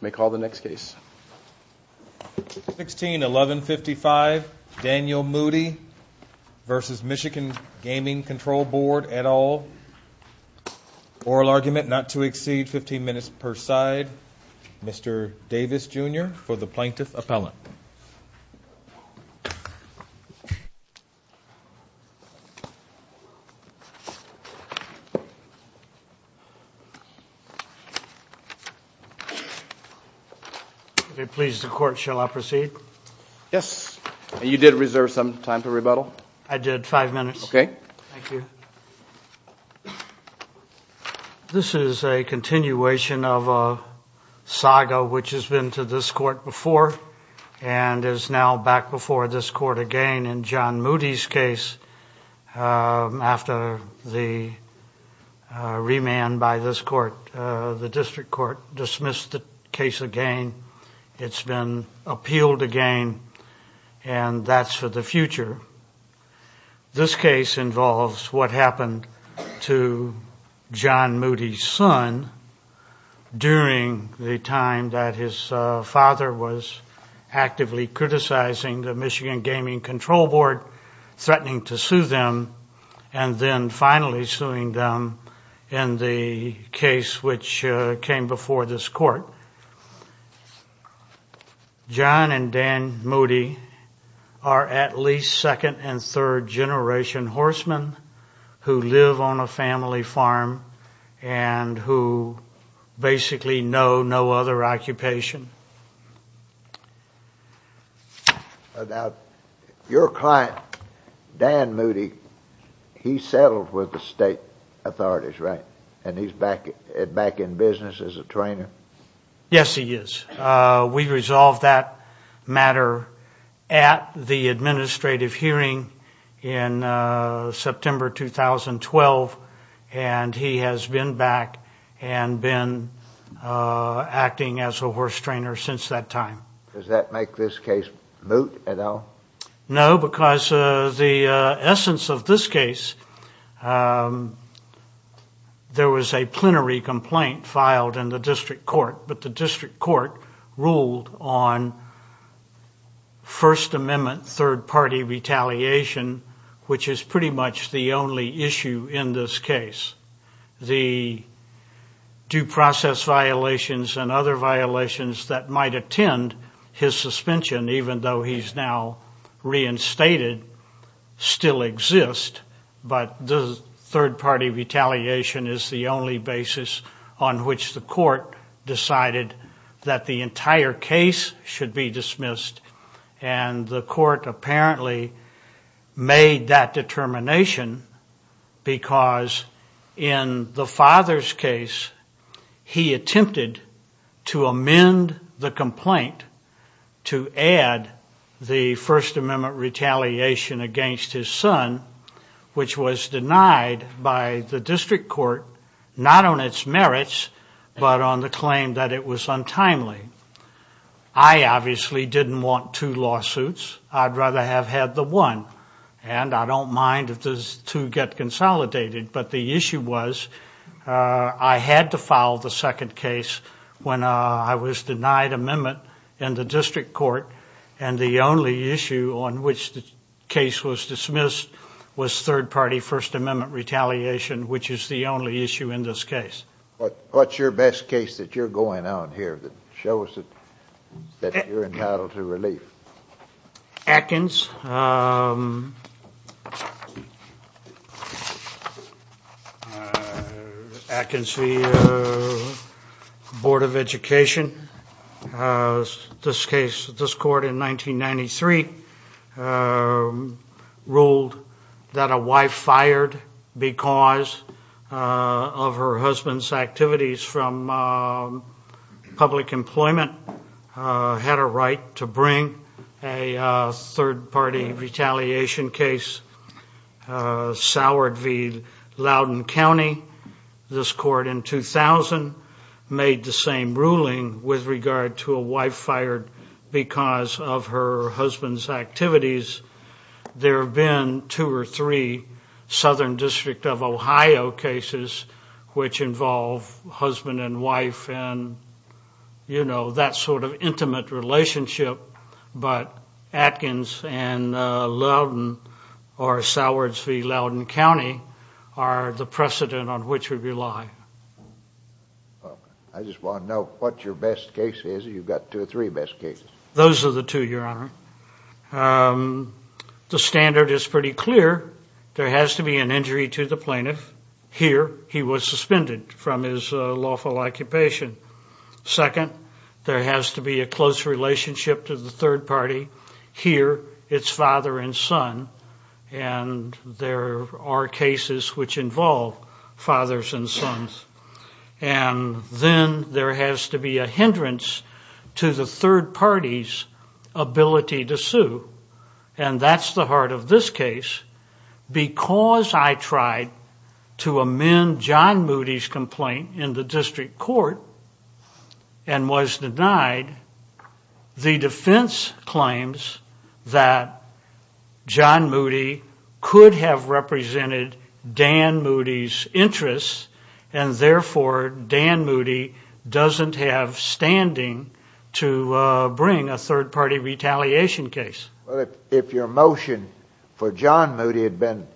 May call the next case. 16-1155, Daniel Moody v. Michigan Gaming Control Board et al. Oral argument not to exceed 15 minutes per side. Mr. Davis Jr. for the Plaintiff Appellant. Please the court shall I proceed? Yes. You did reserve some time to rebuttal. I did. Five minutes. Okay. Thank you. This is a continuation of a saga which has been to this court before and is now back before this court again. In John Moody's case, after the remand by this court, the district court dismissed the case again. It's been appealed again and that's for the future. This case involves what happened to John Moody's son during the time that his father was actively criticizing the Michigan Gaming Control Board, threatening to sue them and then finally suing them in the case which came before this court. John and Dan Moody are at least second and third generation horsemen who live on a family farm and who basically know no other occupation. Your client, Dan Moody, he settled with the state authorities, right? And he's back in business as a trainer? Yes, he is. We resolved that matter at the administrative hearing in September 2012 and he has been back and been acting as a horse trainer since that time. Does that make this case moot at all? No, because the essence of this case, there was a plenary complaint filed in the district court, but the district court ruled on First Amendment third party retaliation, which is pretty much the only issue in this case. The due process violations and other violations that might attend his suspension, even though he's now reinstated, still exist, but the third party retaliation is the only basis on which the court decided that the entire case should be dismissed and the court apparently made that determination because in the father's case, he attempted to amend the complaint to add the First Amendment retaliation against his son, which was denied by the district court, not on its merits, but on the claim that it was untimely. I obviously didn't want two lawsuits. I'd rather have had the one. And I don't mind if those two get consolidated, but the issue was I had to file the second case when I was denied amendment in the district court and the only issue on which the case was dismissed was third party First Amendment retaliation, which is the only issue in this case. What's your best case that you're going on here that shows that you're entitled to relief? Atkins. Atkins v. Board of Education. This case, this court in 1993 ruled that a wife fired because of her husband's activities from public employment, had a right to bring a third party retaliation case. Soured v. Loudoun County. This court in 2000 made the same ruling with regard to a wife fired because of her husband's activities. There have been two or three Southern District of Ohio cases which involve husband and wife. You know, that sort of intimate relationship, but Atkins and Loudoun or Soured v. Loudoun County are the precedent on which we rely. I just want to know what your best case is. You've got two or three best cases. Those are the two, Your Honor. The standard is pretty clear. There has to be an injury to the plaintiff. Here, he was suspended from his lawful occupation. Second, there has to be a close relationship to the third party. Here, it's father and son. And there are cases which involve fathers and sons. And then there has to be a hindrance to the third party's ability to sue. And that's the heart of this case. Because I tried to amend John Moody's complaint in the district court and was denied, the defense claims that John Moody could have represented Dan Moody's interests and therefore Dan Moody doesn't have standing to bring a third party retaliation case. Well, if your motion for John Moody had been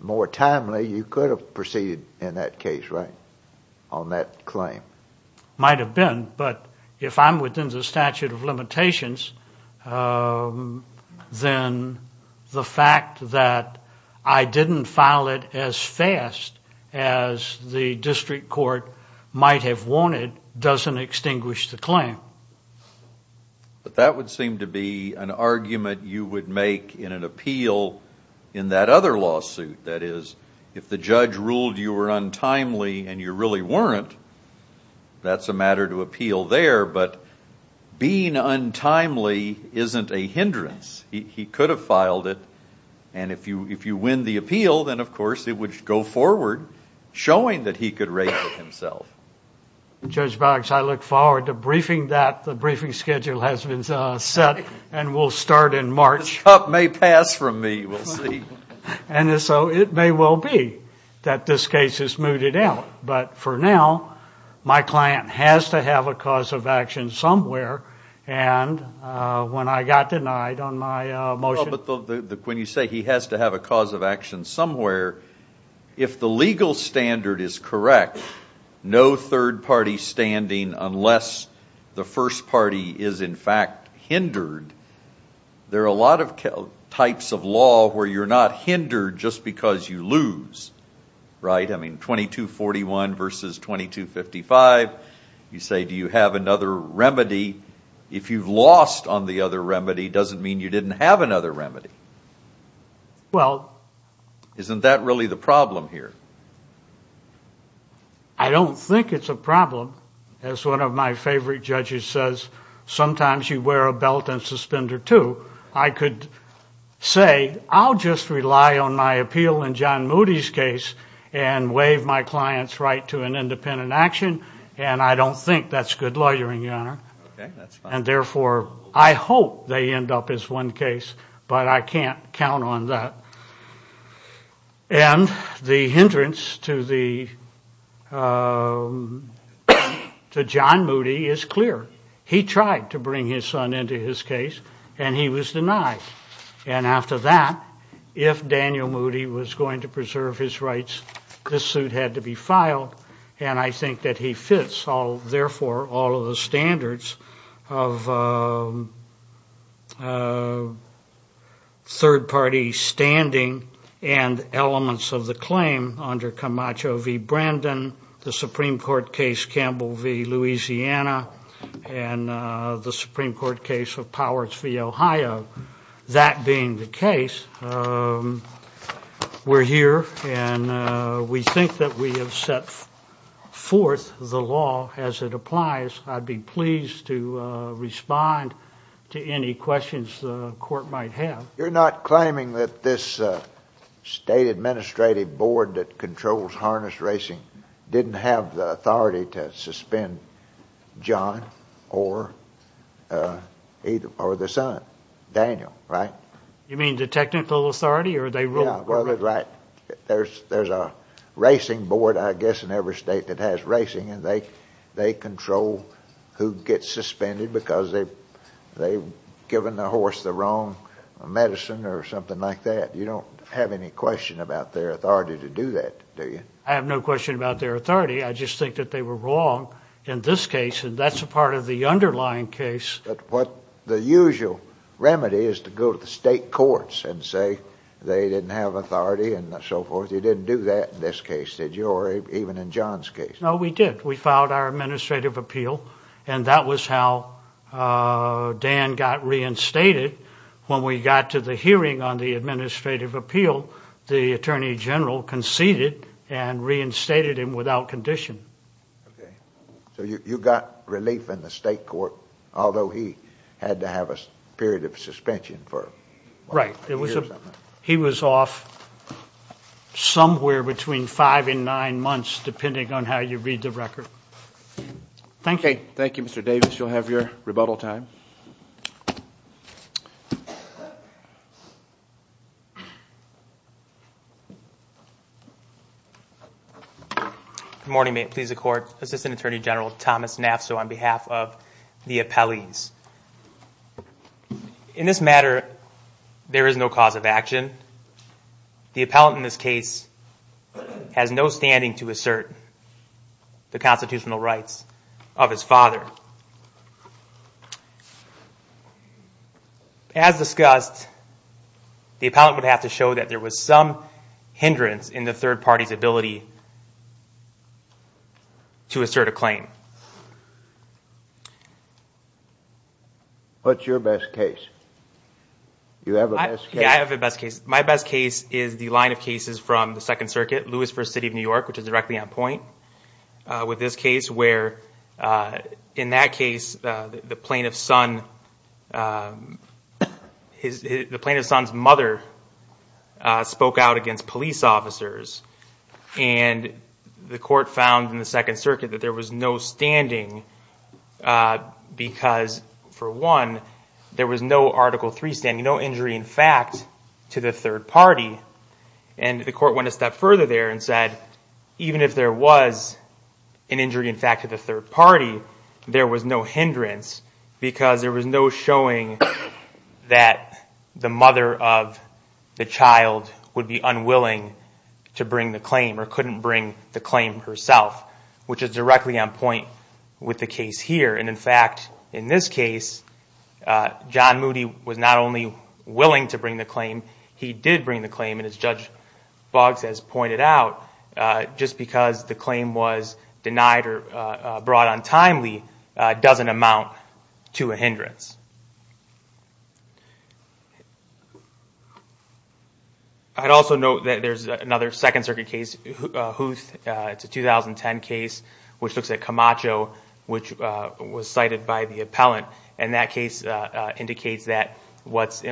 more timely, you could have proceeded in that case, right? On that claim. Might have been, but if I'm within the statute of limitations, then the fact that I didn't file it as fast as the district court might have wanted doesn't extinguish the claim. But that would seem to be an argument you would make in an appeal in that other lawsuit. That is, if the judge ruled you were untimely and you really weren't, that's a matter to appeal there. But being untimely isn't a hindrance. He could have filed it. And if you win the appeal, then, of course, it would go forward showing that he could raise it himself. Judge Boggs, I look forward to briefing that. The briefing schedule has been set and will start in March. This cup may pass from me, we'll see. And so it may well be that this case is mooted out. But for now, my client has to have a cause of action somewhere, and when I got denied on my motion. When you say he has to have a cause of action somewhere, if the legal standard is correct, no third party standing unless the first party is, in fact, hindered, there are a lot of types of law where you're not hindered just because you lose, right? I mean, 2241 versus 2255, you say, do you have another remedy? If you've lost on the other remedy, it doesn't mean you didn't have another remedy. Well... Isn't that really the problem here? I don't think it's a problem. As one of my favorite judges says, sometimes you wear a belt and suspender too. I could say, I'll just rely on my appeal in John Moody's case and waive my client's right to an independent action, and I don't think that's good lawyering, Your Honor. And therefore, I hope they end up as one case, but I can't count on that. And the hindrance to John Moody is clear. He tried to bring his son into his case, and he was denied. And after that, if Daniel Moody was going to preserve his rights, this suit had to be filed, and I think that he fits all, therefore, all of the standards of third party standing and elements of the claim under Camacho v. Brandon, the Supreme Court case Campbell v. Louisiana, and the Supreme Court case of Powers v. Ohio. That being the case, we're here, and we think that we have set forth the law as it applies. I'd be pleased to respond to any questions the court might have. You're not claiming that this state administrative board that controls harness racing didn't have the authority to suspend John or the son, Daniel, right? You mean the technical authority, or they ruled? Yeah, well, they're right. There's a racing board, I guess, in every state that has racing, and they control who gets suspended because they've given the horse the wrong medicine or something like that. You don't have any question about their authority to do that, do you? I have no question about their authority. I just think that they were wrong in this case, and that's a part of the underlying case. But what the usual remedy is to go to the state courts and say they didn't have authority and so forth. You didn't do that in this case, did you, or even in John's case? No, we did. We filed our administrative appeal, and that was how Dan got reinstated. When we got to the hearing on the administrative appeal, the attorney general conceded and reinstated him without condition. Okay. So you got relief in the state court, although he had to have a period of suspension. Right. He was off somewhere between five and nine months, depending on how you read the record. Thank you. Okay. Thank you, Mr. Davis. You'll have your rebuttal time. Good morning. May it please the Court. Assistant Attorney General Thomas Nafso on behalf of the appellees. In this matter, there is no cause of action. The appellant in this case has no standing to assert the constitutional rights of his father. As discussed, the appellant would have to show that there was some hindrance in the third party's ability to assert a claim. What's your best case? You have a best case? Yeah, I have a best case. My best case is the line of cases from the Second Circuit, Lewis v. City of New York, which is directly on point, with this case where, in that case, the plaintiff's son's mother spoke out against police officers, and the Court found in the Second Circuit that there was no standing because, for one, there was no Article III standing, no injury in fact to the third party. And the Court went a step further there and said, even if there was an injury in fact to the third party, there was no hindrance because there was no showing that the mother of the child would be unwilling to bring the claim or couldn't bring the claim herself, which is directly on point with the case here. In fact, in this case, John Moody was not only willing to bring the claim, he did bring the claim, and as Judge Boggs has pointed out, just because the claim was denied or brought untimely doesn't amount to a hindrance. I'd also note that there's another Second Circuit case, Huth, it's a 2010 case, which looks at Camacho, which was cited by the appellant, and that case indicates that what's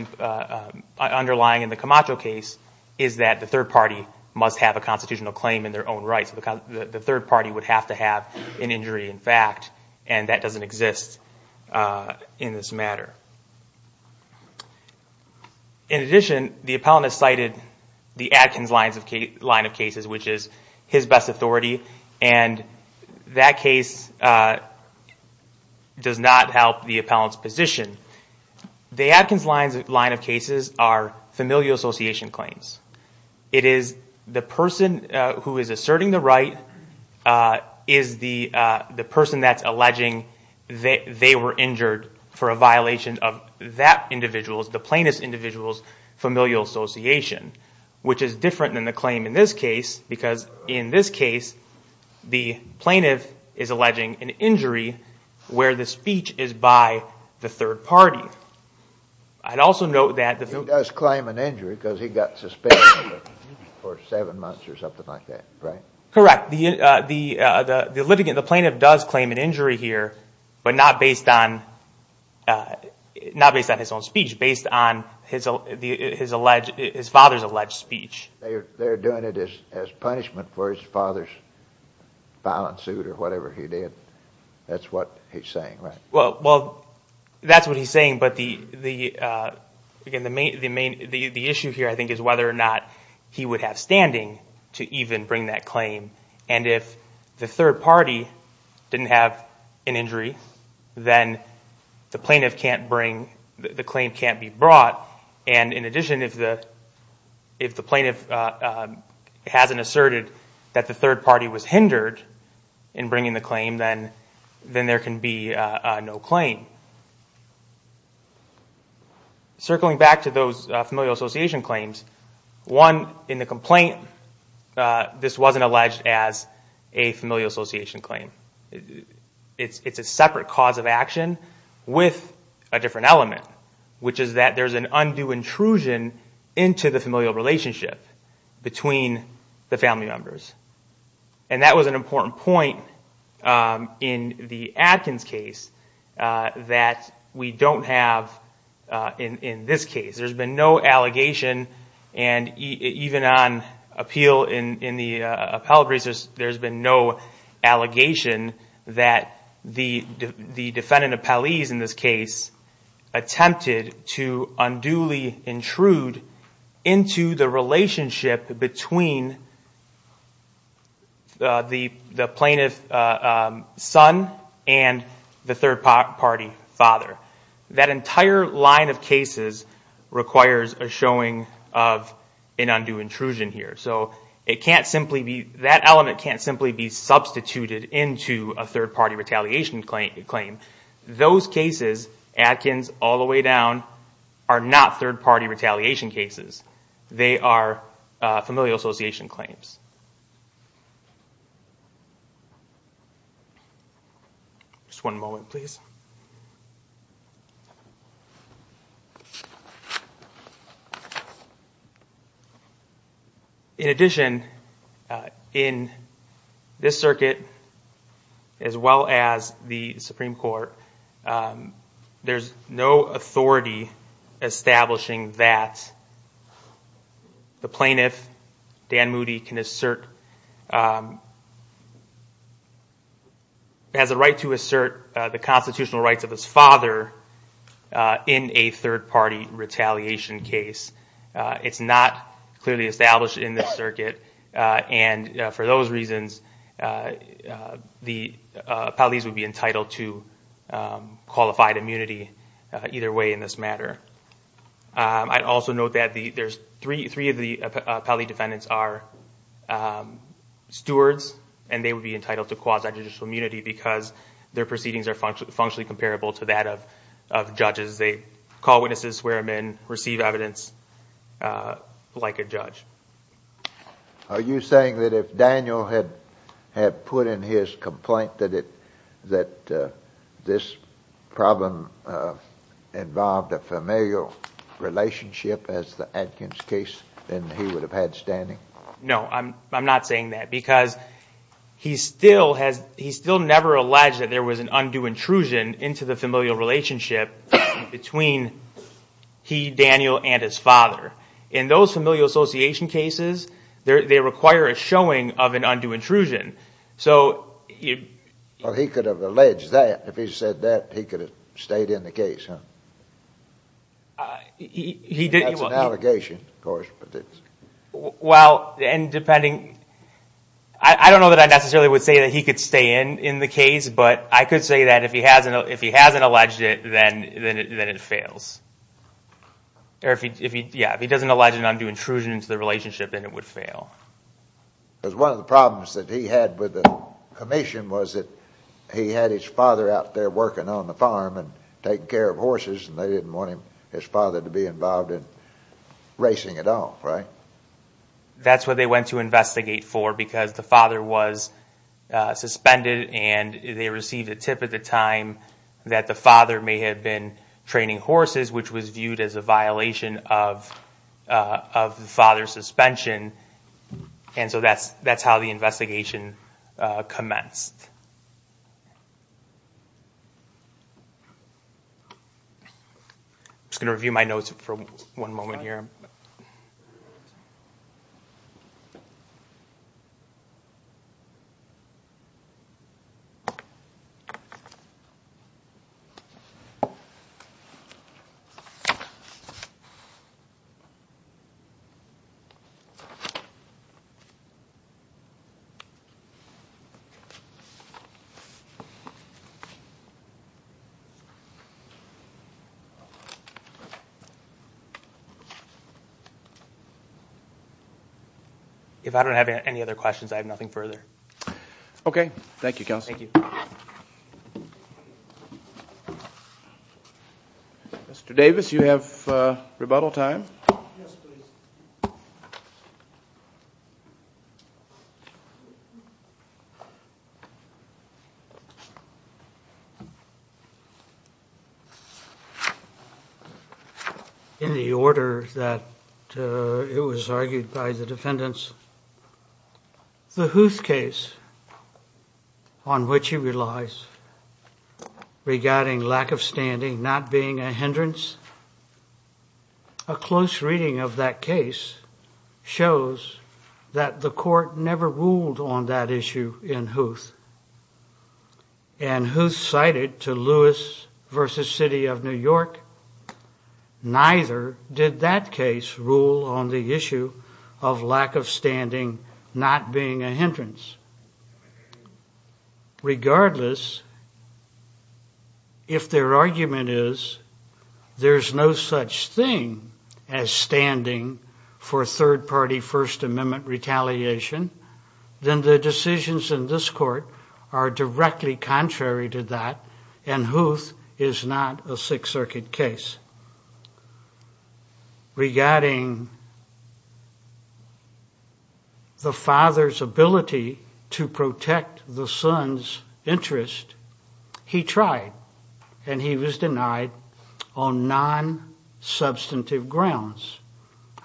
underlying in the Camacho case is that the third party must have a constitutional claim in their own rights. The third party would have to have an injury in fact, and that doesn't exist in this matter. In addition, the appellant has cited the Atkins line of cases, which is his best authority, and that case does not help the appellant's position. The Atkins line of cases are familial association claims. It is the person who is asserting the right is the person that's alleging that they were injured for a violation of that individual's, the plaintiff's individual's familial association, which is different than the claim in this case, because in this case the plaintiff is alleging an injury where the speech is by the third party. I'd also note that... He does claim an injury because he got suspended for seven months or something like that, right? Correct. The litigant, the plaintiff does claim an injury here, but not based on his own speech, based on his father's alleged speech. They're doing it as punishment for his father's violent suit or whatever he did. That's what he's saying, right? Well, that's what he's saying, but the issue here I think is whether or not he would have standing to even bring that claim, and if the third party didn't have an injury, then the plaintiff can't bring, the claim can't be brought. In addition, if the plaintiff hasn't asserted that the third party was hindered in bringing the claim, then there can be no claim. Circling back to those familial association claims, one, in the complaint, this wasn't alleged as a familial association claim. It's a separate cause of action with a different element, which is that there's an undue intrusion into the familial relationship between the family members. That was an important point in the Adkins case that we don't have in this case. There's been no allegation, and even on appeal in the appellate briefs, there's been no allegation that the defendant appellees in this case attempted to unduly intrude into the relationship between the plaintiff's son and the third party father. That entire line of cases requires a showing of an undue intrusion here. That element can't simply be substituted into a third party retaliation claim. Those cases, Adkins all the way down, are not third party retaliation cases. They are familial association claims. In addition, in this circuit, as well as the Supreme Court, there's no authority establishing that the plaintiff, Dan Moody, has a right to assert the constitutional rights of his father in a third party retaliation case. It's not clearly established in this circuit, and for those reasons, the appellees would be entitled to qualified immunity either way in this matter. I'd also note that three of the appellee defendants are stewards, and they would be entitled to quasi-judicial immunity because their proceedings are functionally comparable to that of judges. They call witnesses, swear them in, receive evidence like a judge. Are you saying that if Daniel had put in his complaint that this problem involved a familial relationship as the Adkins case, then he would have had standing? No, I'm not saying that because he still never alleged that there was an undue intrusion into the familial relationship between he, Daniel, and his father. In those familial association cases, they require a showing of an undue intrusion. Well, he could have alleged that. If he said that, he could have stayed in the case, huh? That's an allegation, of course, but it's... Well, and depending... I don't know that I necessarily would say that he could stay in the case, but I could say that if he hasn't alleged it, then it fails. Yeah, if he doesn't allege an undue intrusion into the relationship, then it would fail. Because one of the problems that he had with the commission was that he had his father out there working on the farm and taking care of horses, and they didn't want his father to be involved in racing it off, right? That's what they went to investigate for because the father was suspended and they received a tip at the time that the father may have been training horses, which was viewed as a violation of the father's suspension. And so that's how the investigation commenced. I'm just going to review my notes for one moment here. If I don't have any other questions, I have nothing further. Okay. Thank you, Counsel. Thank you. Mr. Davis, you have rebuttal time. Yes, please. In the order that it was argued by the defendants, the Huth case, on which he relies, regarding lack of standing not being a hindrance, a close reading of that case shows that the court never ruled on that issue in Huth. And Huth cited to Lewis v. City of New York, neither did that case rule on the issue of lack of standing not being a hindrance. Regardless, if their argument is there's no such thing as standing for third-party First Amendment retaliation, then the decisions in this court are directly contrary to that, and Huth is not a Sixth Circuit case. Regarding the father's ability to protect the son's interest, he tried, and he was denied on non-substantive grounds.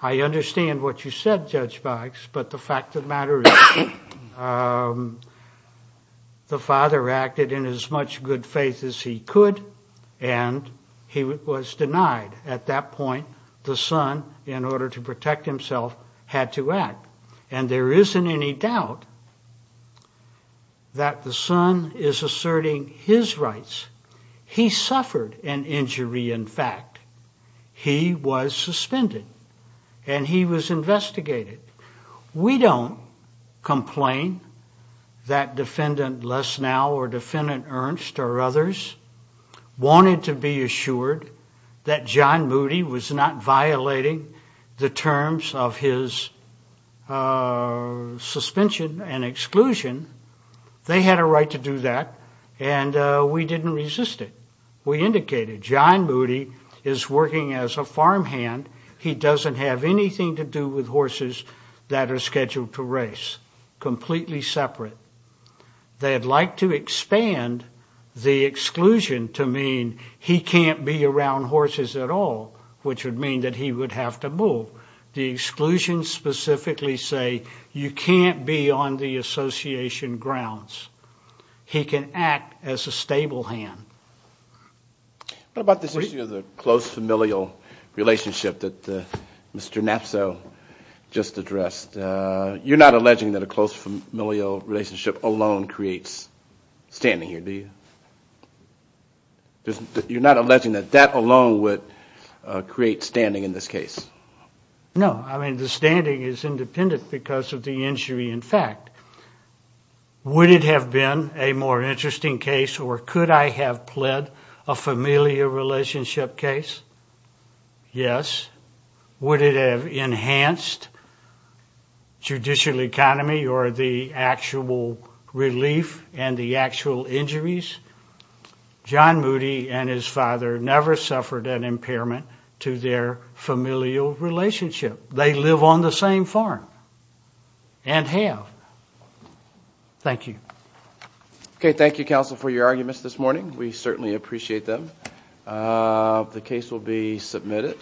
I understand what you said, Judge Boggs, but the fact of the matter is, the father acted in as much good faith as he could, and he was denied. At that point, the son, in order to protect himself, had to act. And there isn't any doubt that the son is asserting his rights. He suffered an injury, in fact. He was suspended, and he was investigated. We don't complain that Defendant Lesnow or Defendant Ernst or others wanted to be assured that John Moody was not violating the terms of his suspension and exclusion. They had a right to do that, and we didn't resist it. We indicated John Moody is working as a farmhand. He doesn't have anything to do with horses that are scheduled to race. Completely separate. They had liked to expand the exclusion to mean he can't be around horses at all, which would mean that he would have to move. The exclusion specifically say you can't be on the association grounds. He can act as a stable hand. What about this issue of the close familial relationship that Mr. Nafso just addressed? You're not alleging that a close familial relationship alone creates standing here, do you? You're not alleging that that alone would create standing in this case? No. I mean, the standing is independent because of the injury, in fact. Would it have been a more interesting case or could I have pled a familial relationship case? Yes. Would it have enhanced judicial economy or the actual relief and the actual injuries? John Moody and his father never suffered an impairment to their familial relationship. They live on the same farm and have. Thank you. Okay. Thank you, counsel, for your arguments this morning. We certainly appreciate them. The case will be submitted.